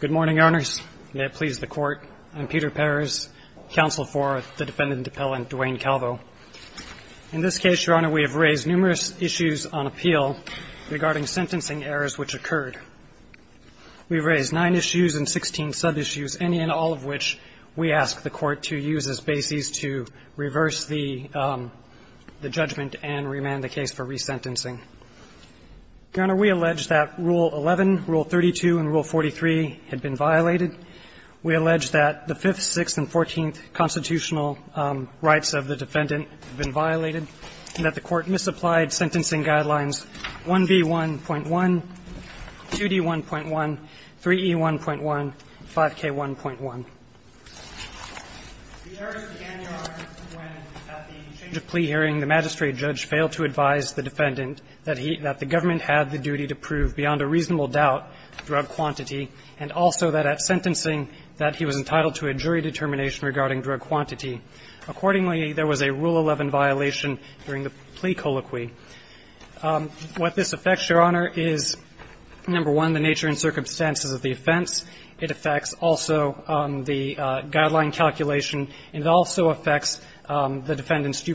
Good morning, Owners. May it please the Court, I'm Peter Perez, counsel for the Defendant Appellant, Duane Calvo. In this case, Your Honor, we have raised numerous issues on appeal regarding sentencing errors which occurred. We've raised nine issues and 16 sub-issues, any and all of which we ask the Court to use as basis to reverse the judgment and remand the case for resentencing. Your Honor, we allege that Rule 11, Rule 32, and Rule 43 had been violated. We allege that the Fifth, Sixth, and Fourteenth constitutional rights of the defendant have been violated, and that the Court misapplied sentencing guidelines 1B1.1, 2D1.1, 3E1.1, and 5K1.1. The errors began, Your Honor, when at the change of plea hearing, the magistrate judge failed to advise the defendant that he – that the government had the duty to prove beyond a reasonable doubt drug quantity, and also that at sentencing, that he was entitled to a jury determination regarding drug quantity. Accordingly, there was a Rule 11 violation during the plea colloquy. What this affects, Your Honor, is, number one, the nature and circumstances of the offense. It affects also the guideline calculation, and it also affects the defendant's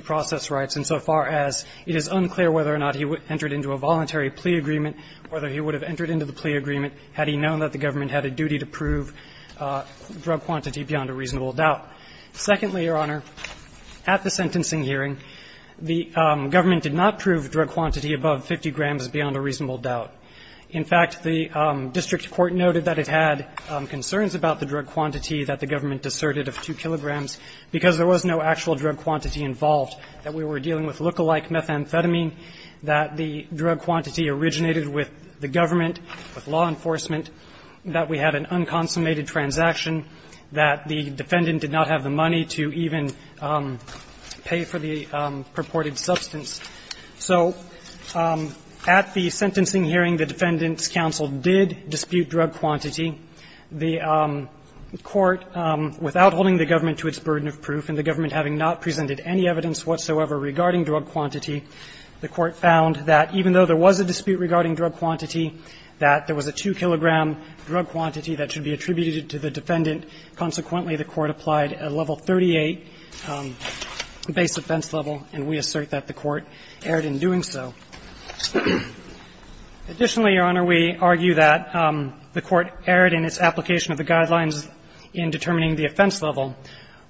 rights insofar as it is unclear whether or not he entered into a voluntary plea agreement, whether he would have entered into the plea agreement had he known that the government had a duty to prove drug quantity beyond a reasonable doubt. Secondly, Your Honor, at the sentencing hearing, the government did not prove drug quantity above 50 grams beyond a reasonable doubt. In fact, the district court noted that it had concerns about the drug quantity that the government deserted of 2 kilograms because there was no actual drug quantity involved, that we were dealing with look-alike methamphetamine, that the drug quantity originated with the government, with law enforcement, that we had an unconsummated transaction, that the defendant did not have the money to even pay for the purported substance. So at the sentencing hearing, the Defendant's Counsel did dispute drug quantity. The Court, without holding the government having not presented any evidence whatsoever regarding drug quantity, the Court found that even though there was a dispute regarding drug quantity, that there was a 2-kilogram drug quantity that should be attributed to the defendant. Consequently, the Court applied a level 38 base offense level, and we assert that the Court erred in doing so. Additionally, Your Honor, we argue that the Court erred in its application of the guidelines in determining the offense level.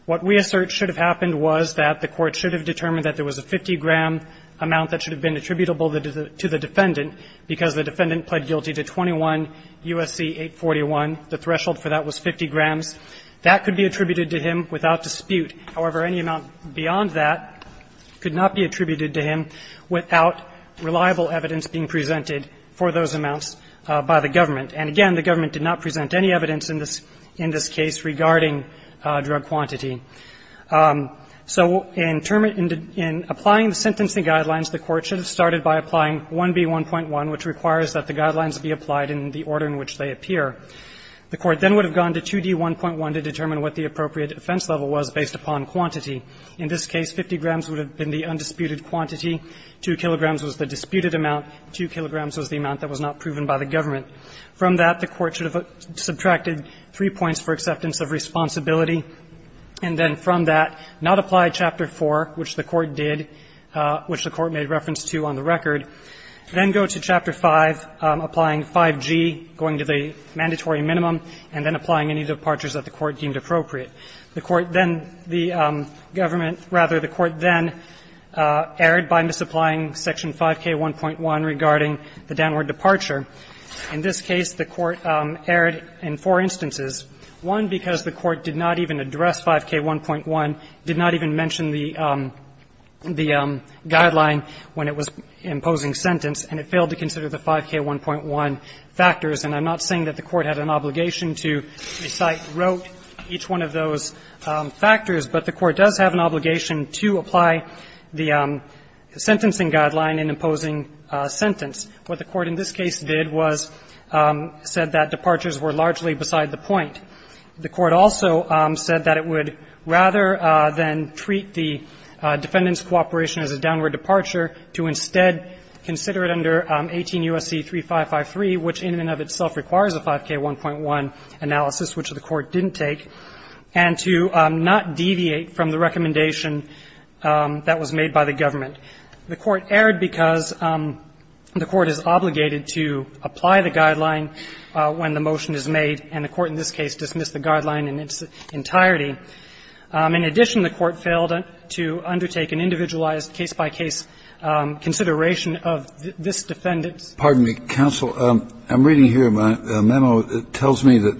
What we assert should have happened was that the Court should have determined that there was a 50-gram amount that should have been attributable to the defendant because the defendant pled guilty to 21 U.S.C. 841. The threshold for that was 50 grams. That could be attributed to him without dispute. However, any amount beyond that could not be attributed to him without reliable evidence being presented for those amounts by the government. And again, the government did not present any evidence in this case regarding drug quantity. So in applying the sentencing guidelines, the Court should have started by applying 1B1.1, which requires that the guidelines be applied in the order in which they appear. The Court then would have gone to 2D1.1 to determine what the appropriate offense level was based upon quantity. In this case, 50 grams would have been the undisputed quantity, 2 kilograms was the disputed amount, 2 kilograms was the amount that was not proven by the government. From that, the Court should have subtracted three points for acceptance of responsibility. And then from that, not apply Chapter 4, which the Court did, which the Court made reference to on the record. Then go to Chapter 5, applying 5G, going to the mandatory minimum, and then applying any departures that the Court deemed appropriate. The Court then the government, rather the Court then erred by misapplying Section 5K1.1 regarding the downward departure. In this case, the Court erred in four instances. One, because the Court did not even address 5K1.1, did not even mention the guideline when it was imposing sentence, and it failed to consider the 5K1.1 factors. And I'm not saying that the Court had an obligation to recite, wrote each one of those factors, but the Court does have an obligation to apply the sentencing guideline in imposing sentence. What the Court in this case did was said that departures were largely beside the point. The Court also said that it would rather than treat the defendant's cooperation as a downward departure to instead consider it under 18 U.S.C. 3553, which in and of itself requires a 5K1.1 analysis, which the Court didn't take, and to not deviate from the recommendation that was made by the government. The Court erred because the Court is obligated to apply the guideline when the motion is made, and the Court in this case dismissed the guideline in its entirety. In addition, the Court failed to undertake an individualized case-by-case consideration of this defendant's. Kennedy. Pardon me, counsel. I'm reading here a memo that tells me that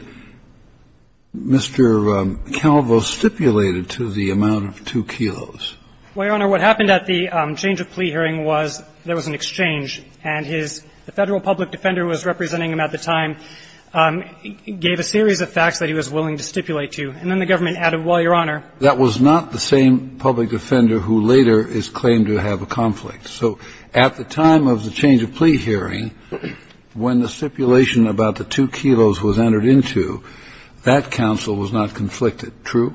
Mr. Calvo was stipulated to the amount of 2 kilos. Well, Your Honor, what happened at the change of plea hearing was there was an exchange, and his the Federal public defender who was representing him at the time gave a series of facts that he was willing to stipulate to. And then the government added, well, Your Honor. That was not the same public defender who later is claimed to have a conflict. So at the time of the change of plea hearing, when the stipulation about the 2 kilos was entered into, that counsel was not conflicted, true?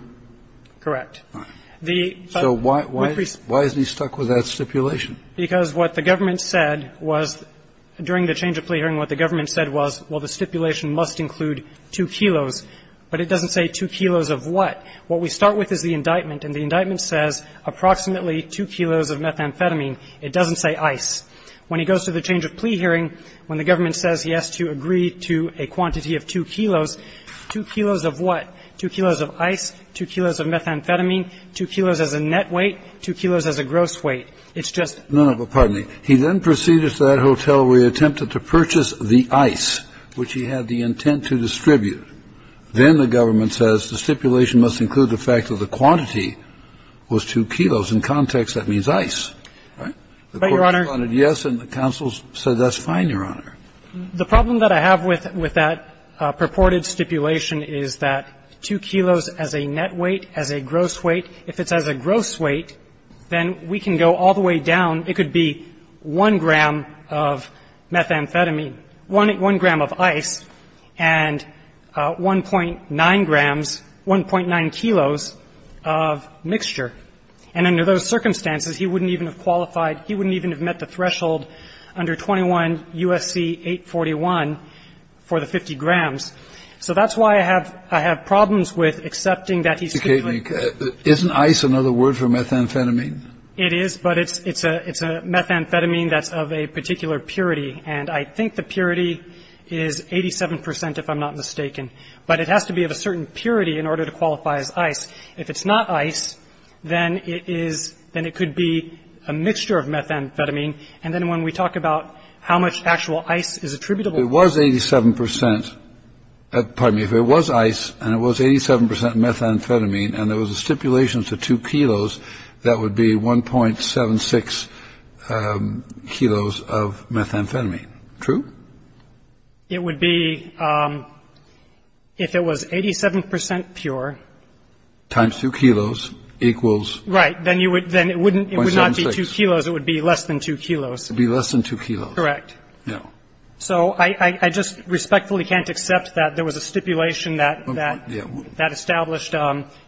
Correct. So why is he stuck with that stipulation? Because what the government said was, during the change of plea hearing, what the government said was, well, the stipulation must include 2 kilos, but it doesn't say 2 kilos of what. What we start with is the indictment, and the indictment says approximately 2 kilos of methamphetamine. It doesn't say ice. When he goes to the change of plea hearing, when the government says he has to agree to a quantity of 2 kilos, 2 kilos of what? 2 kilos of ice, 2 kilos of methamphetamine, 2 kilos as a net weight, 2 kilos as a gross weight. It's just. No, no. But pardon me. He then proceeded to that hotel where he attempted to purchase the ice, which he had the intent to distribute. Then the government says the stipulation must include the fact that the quantity was 2 kilos. In context, that means ice, right? But, Your Honor. The court responded yes, and the counsel said that's fine, Your Honor. The problem that I have with that purported stipulation is that 2 kilos as a net weight, as a gross weight. If it's as a gross weight, then we can go all the way down. It could be 1 gram of methamphetamine, 1 gram of ice, and 1.9 grams, 1.9 kilos of mixture. And under those circumstances, he wouldn't even have qualified. He wouldn't even have met the threshold under 21 U.S.C. 841 for the 50 grams. So that's why I have problems with accepting that he's. Isn't ice another word for methamphetamine? It is, but it's a methamphetamine that's of a particular purity. And I think the purity is 87 percent, if I'm not mistaken. But it has to be of a certain purity in order to qualify as ice. If it's not ice, then it could be a mixture of methamphetamine. And then when we talk about how much actual ice is attributable. It was 87 percent. Pardon me. If it was ice and it was 87 percent methamphetamine and there was a stipulation to 2 kilos, that would be 1.76 kilos of methamphetamine. True? It would be if it was 87 percent pure. Times 2 kilos equals. Right. Then you would then it wouldn't be 2 kilos. It would be less than 2 kilos. It would be less than 2 kilos. Correct. Yeah. So I just respectfully can't accept that there was a stipulation that that established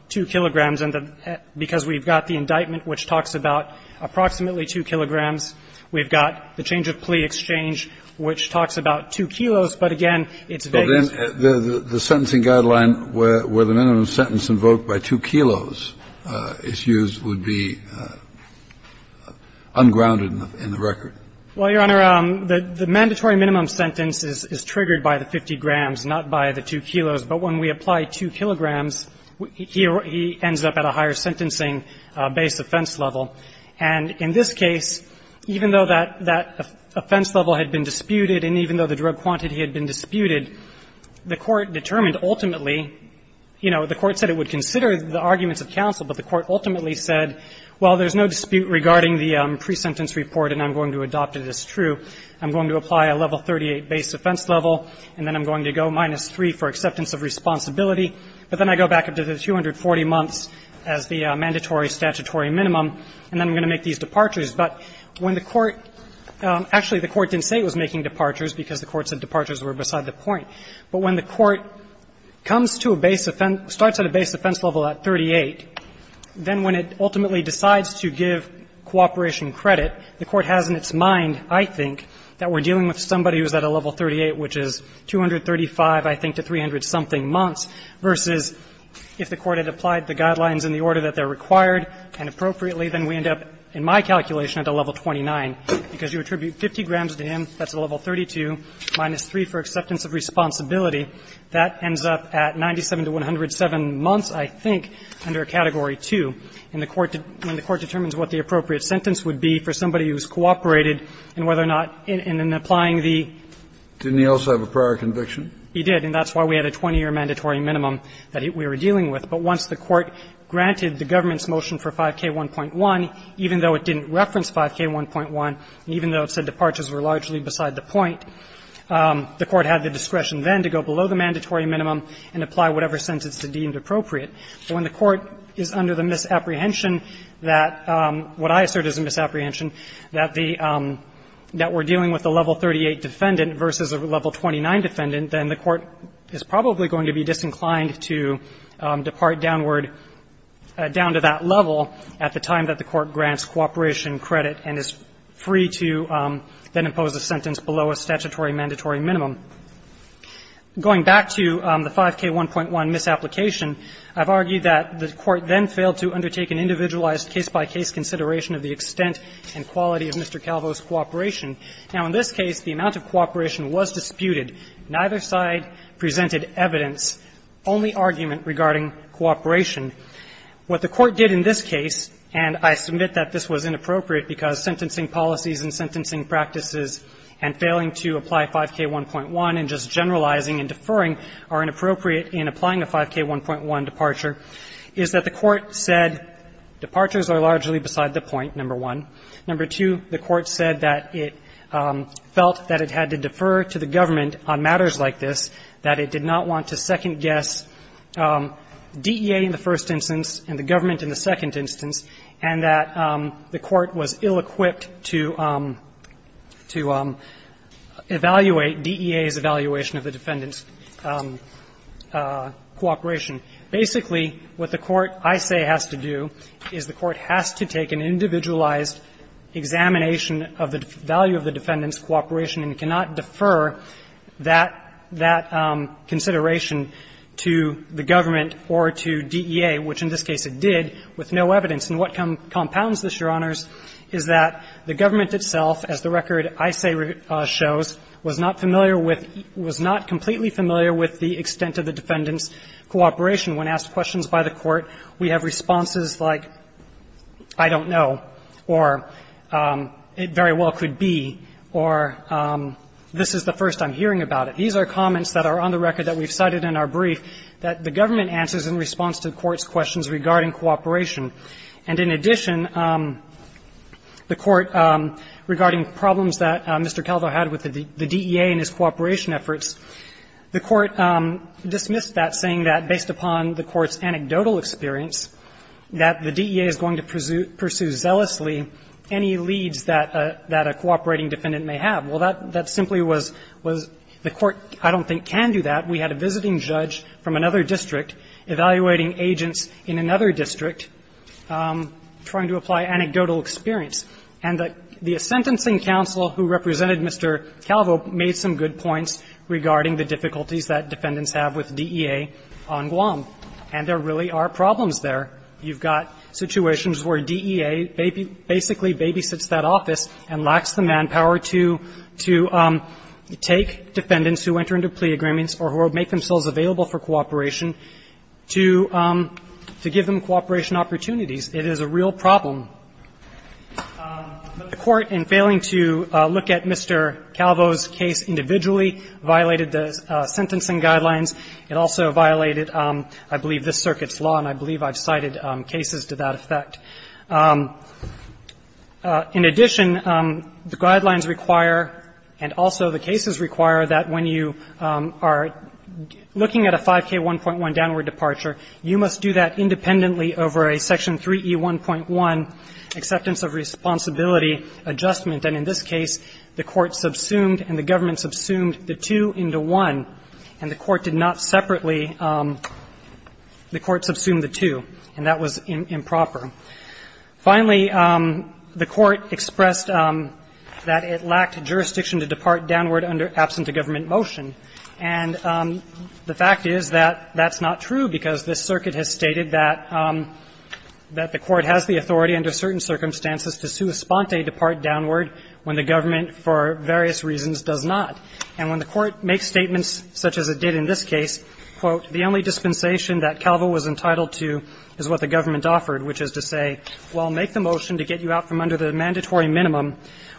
2 kilograms. And because we've got the indictment which talks about approximately 2 kilograms, we've got the change of plea exchange which talks about 2 kilos. But again, it's vague. But then the sentencing guideline where the minimum sentence invoked by 2 kilos is used would be ungrounded in the record. Well, Your Honor, the mandatory minimum sentence is triggered by the 50 grams, not by the 2 kilos. But when we apply 2 kilograms, he ends up at a higher sentencing base offense level. And in this case, even though that offense level had been disputed and even though the drug quantity had been disputed, the court determined ultimately, you know, the court said it would consider the arguments of counsel, but the court ultimately said, well, there's no dispute regarding the pre-sentence report and I'm going to adopt it as true. I'm going to apply a level 38 base offense level, and then I'm going to go minus 3 for acceptance of responsibility. But then I go back up to the 240 months as the mandatory statutory minimum, and then I'm going to make these departures. But when the court – actually, the court didn't say it was making departures because the court said departures were beside the point. But when the court comes to a base – starts at a base offense level at 38, then when it ultimately decides to give cooperation credit, the court has in its mind, I think, that we're dealing with somebody who's at a level 38, which is 235, I think, to 300-something months, versus if the court had applied the guidelines in the order that they're required and appropriately, then we end up, in my calculation, at a level 29, because you attribute 50 grams to him, that's a level 32, minus 3 for acceptance of responsibility, that ends up at 97 to 107 months, I think, under category 2, and the court – when the court determines what the appropriate sentence would be for somebody who's cooperated and whether or not in applying the – Kennedy. Didn't he also have a prior conviction? He did, and that's why we had a 20-year mandatory minimum that we were dealing with, but once the court granted the government's motion for 5K1.1, even though it didn't reference 5K1.1, and even though it said departures were largely beside the point, the court had the discretion then to go below the mandatory minimum and apply whatever sentence it deemed appropriate. When the court is under the misapprehension that – what I assert is a misapprehension that the – that we're dealing with a level 38 defendant versus a level 29 defendant, then the court is probably going to be disinclined to depart downward – down to that level at the time that the court grants cooperation credit and is free to then impose a sentence below a statutory mandatory minimum. Going back to the 5K1.1 misapplication, I've argued that the court then failed to undertake an individualized case-by-case consideration of the extent and quality of Mr. Calvo's cooperation. Now, in this case, the amount of cooperation was disputed. Neither side presented evidence, only argument regarding cooperation. What the court did in this case, and I submit that this was inappropriate because sentencing policies and sentencing practices and failing to apply 5K1.1 and just generalizing and deferring are inappropriate in applying a 5K1.1 departure, is that the court said departures are largely beside the point, number one. Number two, the court said that it felt that it had to defer to the government on matters like this, that it did not want to second-guess DEA in the first instance and the government in the second instance, and that the court was ill-equipped to – to evaluate DEA's evaluation of the defendant's cooperation. Basically, what the court, I say, has to do is the court has to take an individualized examination of the value of the defendant's cooperation and cannot defer that – that consideration to the government or to DEA, which in this case it did with no evidence. And what compounds this, Your Honors, is that the government itself, as the record, I say shows, was not familiar with – was not completely familiar with the extent of the defendant's cooperation. When asked questions by the court, we have responses like, I don't know, or it very well could be, or this is the first I'm hearing about it. These are comments that are on the record that we've cited in our brief, that the government answers in response to the court's questions regarding cooperation. And in addition, the court, regarding problems that Mr. Calvo had with the DEA and his cooperation efforts, the court dismissed that, saying that based upon the court's anecdotal experience, that the DEA is going to pursue – pursue zealously any leads that a – that a cooperating defendant may have. Well, that – that simply was – was the court, I don't think, can do that. We had a visiting judge from another district evaluating agents in another district trying to apply anecdotal experience. And the – the sentencing counsel who represented Mr. Calvo made some good points regarding the difficulties that defendants have with DEA on Guam. And there really are problems there. You've got situations where DEA basically babysits that office and lacks the manpower to – to take defendants who enter into plea agreements or who make themselves available for cooperation to – to give them cooperation opportunities. It is a real problem. But the court, in failing to look at Mr. Calvo's case individually, violated the sentencing guidelines. It also violated, I believe, this Circuit's law, and I believe I've cited cases to that effect. In addition, the guidelines require, and also the cases require, that when you are looking at a 5K1.1 downward departure, you must do that independently over a Section 3E1.1 acceptance of responsibility adjustment. And in this case, the court subsumed and the government subsumed the two into one, and the court did not separately – the court subsumed the two, and that was improper. Finally, the court expressed that it lacked jurisdiction to depart downward under absent-of-government motion. And the fact is that that's not true, because this Circuit has stated that – that the court has the authority under certain circumstances to sua sponte, depart downward, when the government, for various reasons, does not. And when the court makes statements such as it did in this case, quote, the only dispensation that Calvo was entitled to is what the government offered, which is to say, well, make the motion to get you out from under the mandatory minimum,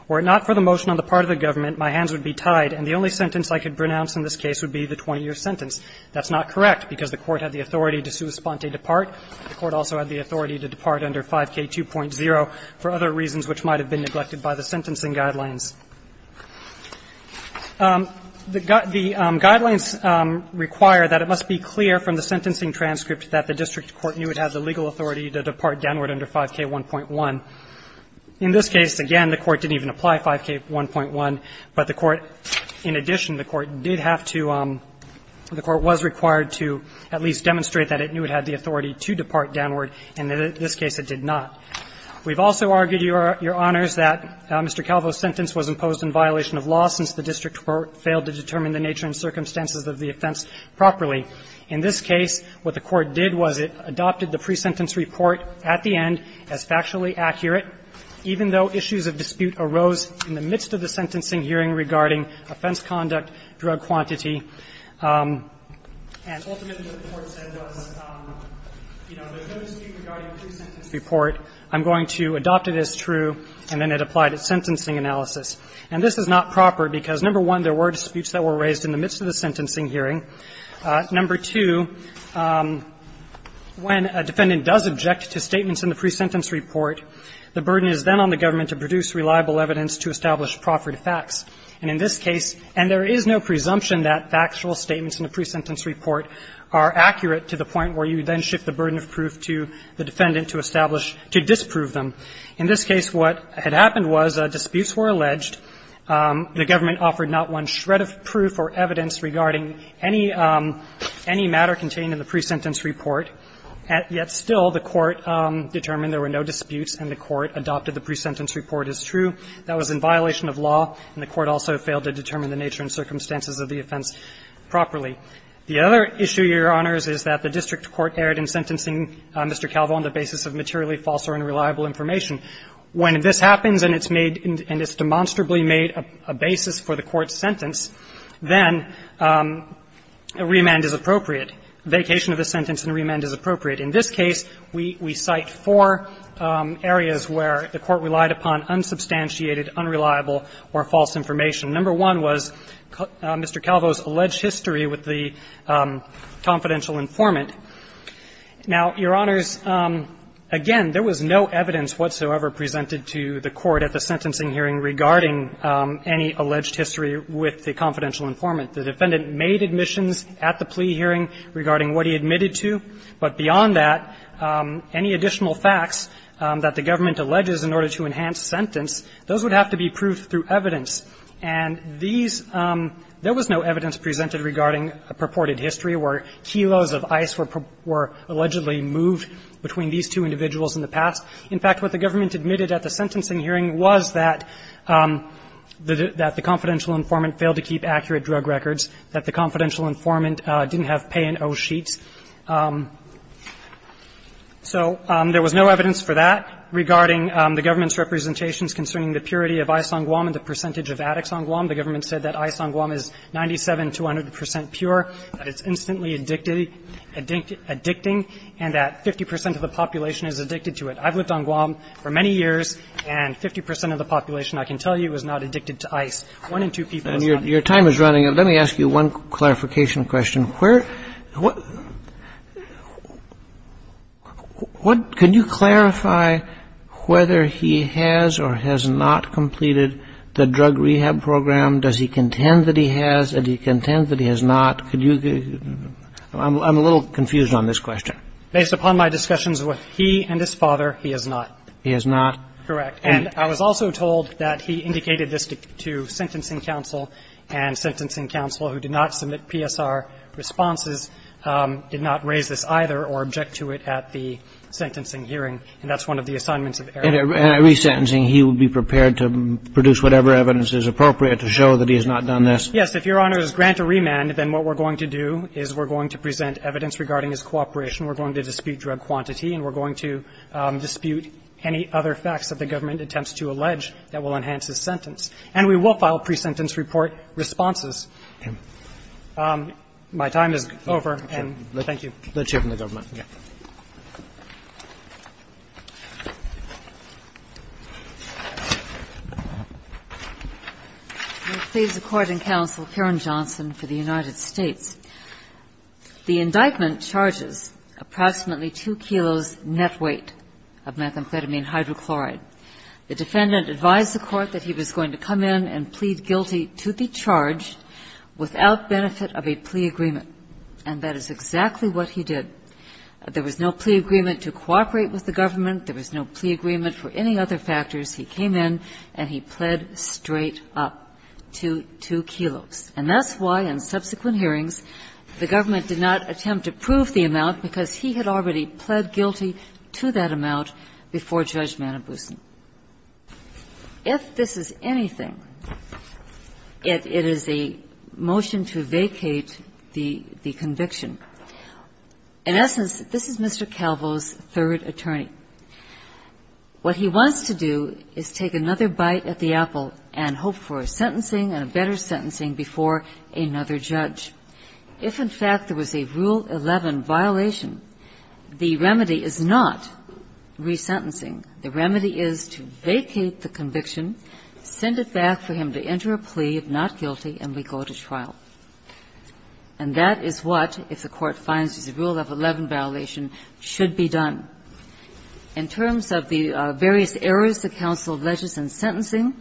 were it not for the motion on the part of the government, my hands would be tied, and the only sentence I could pronounce in this case would be the 20-year sentence. That's not correct, because the court had the authority to sua sponte, depart. The court also had the authority to depart under 5K2.0 for other reasons which might have been neglected by the sentencing guidelines. The guidelines require that it must be clear from the sentencing transcript that the district court knew it had the legal authority to depart downward under 5K1.1. In this case, again, the court didn't even apply 5K1.1, but the court, in addition, the court did have to, the court was required to at least demonstrate that it knew it had the authority to depart downward. In this case, it did not. We've also argued, Your Honors, that Mr. Calvo's sentence was imposed in violation of law since the district court failed to determine the nature and circumstances of the offense properly. In this case, what the court did was it adopted the pre-sentence report at the end as factually accurate, even though issues of dispute arose in the midst of the sentencing hearing regarding offense conduct, drug quantity, and ultimately what the court said was, you know, there's no dispute regarding the pre-sentence report. I'm going to adopt it as true, and then it applied its sentencing analysis. And this is not proper because, number one, there were disputes that were raised in the midst of the sentencing hearing. Number two, when a defendant does object to statements in the pre-sentence report, the burden is then on the government to produce reliable evidence to establish proffered facts. And in this case, and there is no presumption that factual statements in the pre-sentence report are accurate to the point where you then shift the burden of proof to the defendant to establish, to disprove them. In this case, what had happened was disputes were alleged. The government offered not one shred of proof or evidence regarding any matter contained in the pre-sentence report, yet still the court determined there were no disputes, and the court adopted the pre-sentence report as true. That was in violation of law, and the court also failed to determine the nature and circumstances of the offense properly. The other issue, Your Honors, is that the district court erred in sentencing Mr. Calvo on the basis of materially false or unreliable information. When this happens and it's made, and it's demonstrably made a basis for the court's sentence, then a remand is appropriate, a vacation of the sentence and a remand is appropriate. In this case, we cite four areas where the court relied upon unsubstantiated, unreliable, or false information. Number one was Mr. Calvo's alleged history with the confidential informant. Now, Your Honors, again, there was no evidence whatsoever presented to the court at the sentencing hearing regarding any alleged history with the confidential informant. The defendant made admissions at the plea hearing regarding what he admitted to, but beyond that, any additional facts that the government alleges in order to enhance sentence, those would have to be proved through evidence. And these – there was no evidence presented regarding purported history where kilos of ice were allegedly moved between these two individuals in the past. In fact, what the government admitted at the sentencing hearing was that the confidential informant failed to keep accurate drug records, that the confidential informant didn't have pay-and-owe sheets. So there was no evidence for that regarding the government's representations concerning the purity of ice on Guam and the percentage of addicts on Guam. The government said that ice on Guam is 97 to 100 percent pure, that it's instantly addicted – addicting, and that 50 percent of the population is addicted to it. I've lived on Guam for many years, and 50 percent of the population, I can tell you, is not addicted to ice. One in two people is not. And your time is running out. Let me ask you one clarification question. Where – what – what – could you clarify whether he has or has not completed the drug rehab program? Does he contend that he has, and does he contend that he has not? I'm a little confused on this question. Based upon my discussions with he and his father, he has not. He has not? Correct. And I was also told that he indicated this to sentencing counsel, and sentencing counsel who did not submit PSR responses did not raise this either or object to it at the sentencing hearing, and that's one of the assignments of Eric. In a resentencing, he would be prepared to produce whatever evidence is appropriate to show that he has not done this? Yes. If Your Honor's grant a remand, then what we're going to do is we're going to present evidence regarding his cooperation. We're going to dispute drug quantity, and we're going to dispute any other facts that the government attempts to allege that will enhance his sentence. And we will file pre-sentence report responses. My time is over, and thank you. Let's hear from the government. Okay. May it please the Court and Counsel, Karen Johnson for the United States. The indictment charges approximately 2 kilos net weight of methamphetamine hydrochloride. The defendant advised the Court that he was going to come in and plead guilty to the charge without benefit of a plea agreement, and that is exactly what he did. There was no plea agreement to cooperate with the government. There was no plea agreement for any other factors. He came in, and he pled straight up to 2 kilos. And that's why, in subsequent hearings, the government did not attempt to prove the amount because he had already pled guilty to that amount before Judge Manabusen. If this is anything, it is a motion to vacate the conviction. In essence, this is Mr. Calvo's third attorney. What he wants to do is take another bite at the apple and hope for a sentencing and a better sentencing before another judge. If, in fact, there was a Rule 11 violation, the remedy is not resentencing. The remedy is to vacate the conviction, send it back for him to enter a plea of not guilty, and we go to trial. And that is what, if the Court finds there's a Rule 11 violation, should be done. In terms of the various errors that counsel ledges in sentencing,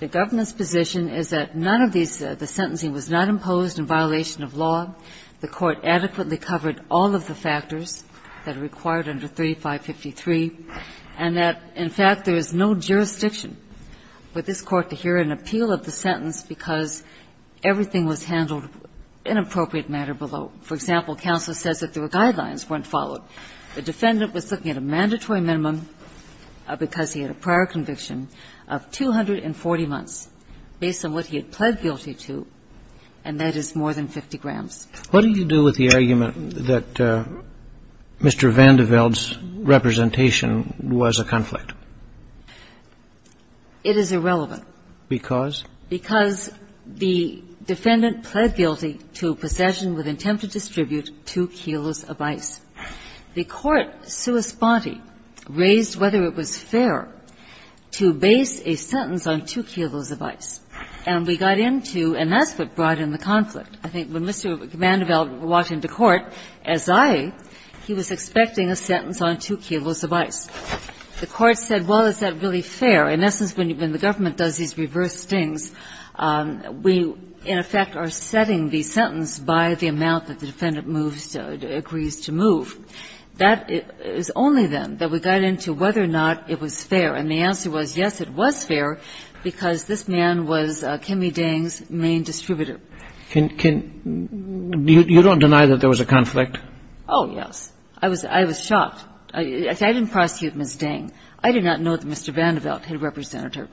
the government's position is that none of these the sentencing was not imposed in violation of law. The Court adequately covered all of the factors that are required under 3553, and that, in fact, there is no jurisdiction for this Court to hear an appeal of the sentence because everything was handled in an appropriate manner below. For example, counsel says that there were guidelines weren't followed. The defendant was looking at a mandatory minimum because he had a prior conviction of 240 months based on what he had pled guilty to, and that is more than 50 grams. What do you do with the argument that Mr. Vandeveld's representation was a conflict? It is irrelevant. Because? Because the defendant pled guilty to possession with intent to distribute 2 kilos of ice. The Court, sua sponte, raised whether it was fair to base a sentence on 2 kilos of ice. And we got into, and that's what brought in the conflict. I think when Mr. Vandeveld walked into court, as I, he was expecting a sentence on 2 kilos of ice. The Court said, well, is that really fair? In essence, when the government does these reverse things, we, in effect, are setting the sentence by the amount that the defendant moves, agrees to move. That is only then that we got into whether or not it was fair. And the answer was, yes, it was fair, because this man was Kimme Dang's main distributor. You don't deny that there was a conflict? Oh, yes. I was shocked. I didn't prosecute Ms. Dang. I did not know that Mr. Vandeveld had represented her.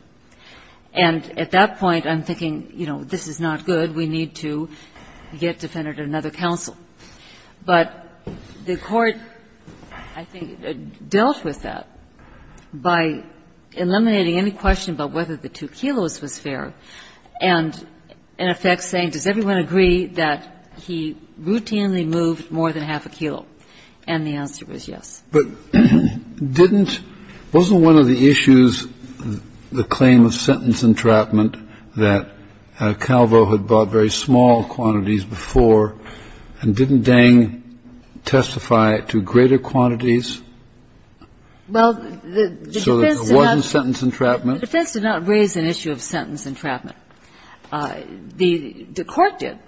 And at that point, I'm thinking, you know, this is not good. We need to get defendant to another counsel. But the Court, I think, dealt with that by eliminating any question about whether the 2 kilos was fair and, in effect, saying, does everyone agree that he routinely moved more than half a kilo? And the answer was yes. But didn't ñ wasn't one of the issues the claim of sentence entrapment that Calvo had bought very small quantities before, and didn't Dang testify to greater quantities so that there wasn't sentence entrapment? Well, the defense did not raise an issue of sentence entrapment. The Court did.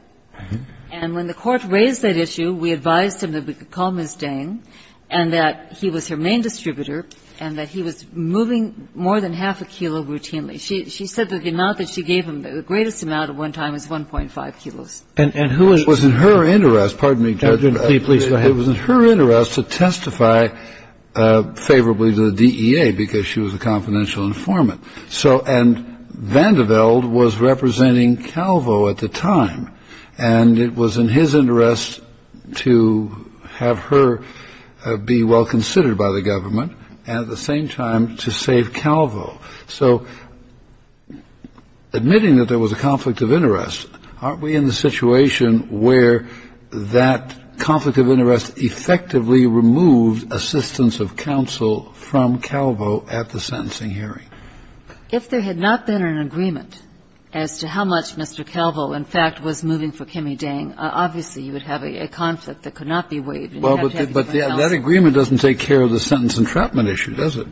And when the Court raised that issue, we advised him that we could call Ms. Dang and that he was her main distributor and that he was moving more than half a kilo routinely. She said the amount that she gave him, the greatest amount at one time was 1.5 kilos. And who is ñ It was in her interest ñ pardon me, Judge. Please go ahead. It was in her interest to testify favorably to the DEA because she was a confidential informant. So ñ and Vandeveld was representing Calvo at the time. And it was in his interest to have her be well considered by the government, and at the same time to save Calvo. So admitting that there was a conflict of interest, aren't we in the situation where that conflict of interest effectively removed assistance of counsel from Calvo at the sentencing hearing? If there had not been an agreement as to how much Mr. Calvo, in fact, was moving for Kimmy Dang, obviously you would have a conflict that could not be waived. And you'd have to have different counsel. But that agreement doesn't take care of the sentence entrapment issue, does it?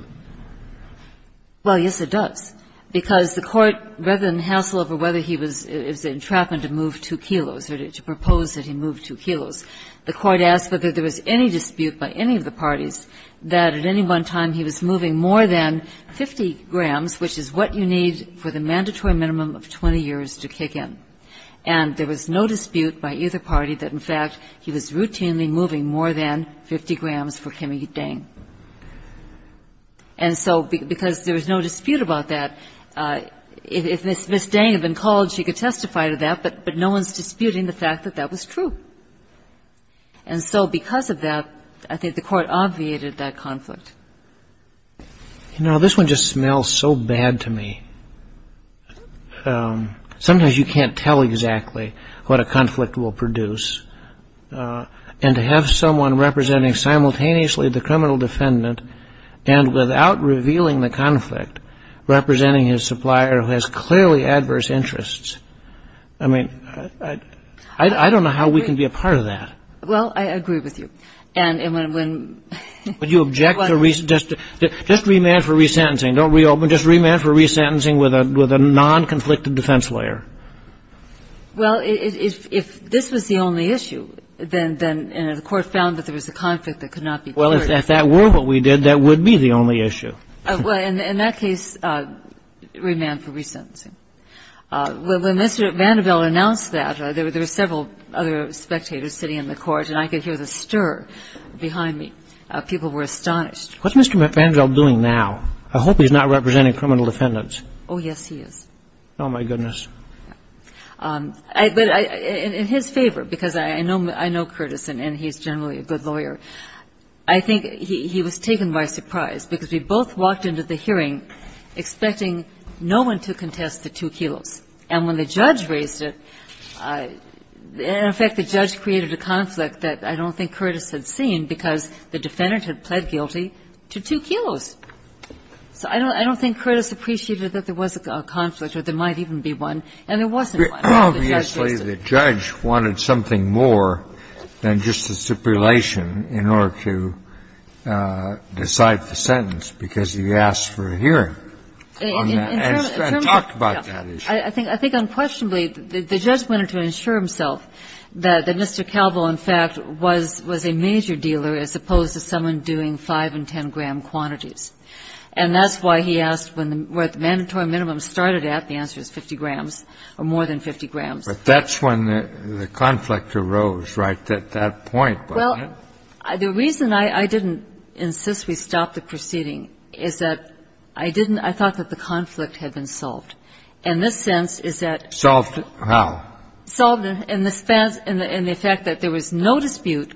Well, yes, it does. Because the Court, rather than hassle over whether he was ñ it was an entrapment to move 2 kilos or to propose that he move 2 kilos, the Court asked whether there was any dispute by any of the parties that at any one time he was moving more than 50 grams, which is what you need for the mandatory minimum of 20 years to kick in. And there was no dispute by either party that, in fact, he was routinely moving more than 50 grams for Kimmy Dang. And so because there was no dispute about that, if Ms. Dang had been called, she could testify to that, but no one's disputing the fact that that was true. And so because of that, I think the Court obviated that conflict. You know, this one just smells so bad to me. Sometimes you can't tell exactly what a conflict will produce. And to have someone representing simultaneously the criminal defendant and without revealing the conflict, representing his supplier who has clearly adverse interests, I mean, I don't know how we can be a part of that. Well, I agree with you. Would you object to just remand for resentencing? Don't reopen. Just remand for resentencing with a non-conflicted defense lawyer. Well, if this was the only issue, then the Court found that there was a conflict that could not be cleared. Well, if that were what we did, that would be the only issue. Well, in that case, remand for resentencing. When Mr. Vanderbilt announced that, there were several other spectators sitting in the Court, and I could hear the stir behind me. People were astonished. What's Mr. Vanderbilt doing now? I hope he's not representing criminal defendants. Oh, yes, he is. Oh, my goodness. But in his favor, because I know Curtis, and he's generally a good lawyer, I think he was taken by surprise because we both walked into the hearing expecting no one to contest the two kilos. And when the judge raised it, in effect, the judge created a conflict that I don't think Curtis had seen because the defendant had pled guilty to two kilos. So I don't think Curtis appreciated that there was a conflict or there might even be one, and there wasn't one. Obviously, the judge wanted something more than just a stipulation in order to decide the sentence because he asked for a hearing. And talk about that issue. I think unquestionably, the judge wanted to ensure himself that Mr. Calvo, in fact, was a major dealer as opposed to someone doing 5 and 10-gram quantities. And that's why he asked what the mandatory minimum started at. The answer is 50 grams or more than 50 grams. But that's when the conflict arose, right, at that point. Well, the reason I didn't insist we stop the proceeding is that I didn't – I thought that the conflict had been solved. And this sense is that – Solved how? Solved in the sense – in the fact that there was no dispute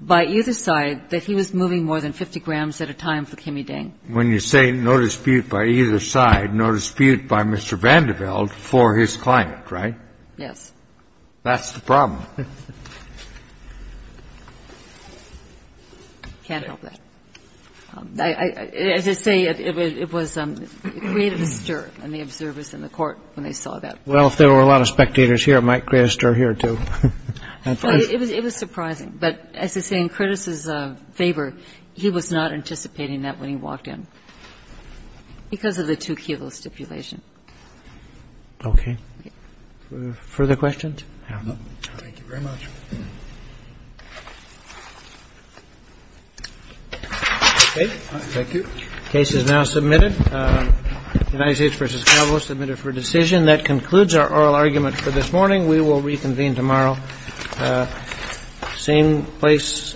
by either side that he was moving more than 50 grams at a time for Kimme Dang. When you say no dispute by either side, no dispute by Mr. Vanderbilt for his client, right? Yes. That's the problem. I can't help that. As I say, it was – it created a stir in the observers in the court when they saw that. Well, if there were a lot of spectators here, it might create a stir here, too. It was surprising. But as I say, in Curtis's favor, he was not anticipating that when he walked in because of the 2-kilo stipulation. Okay. Further questions? No. Thank you very much. Thank you. The case is now submitted. United States v. Calvo, submitted for decision. That concludes our oral argument for this morning. We will reconvene tomorrow. Same place.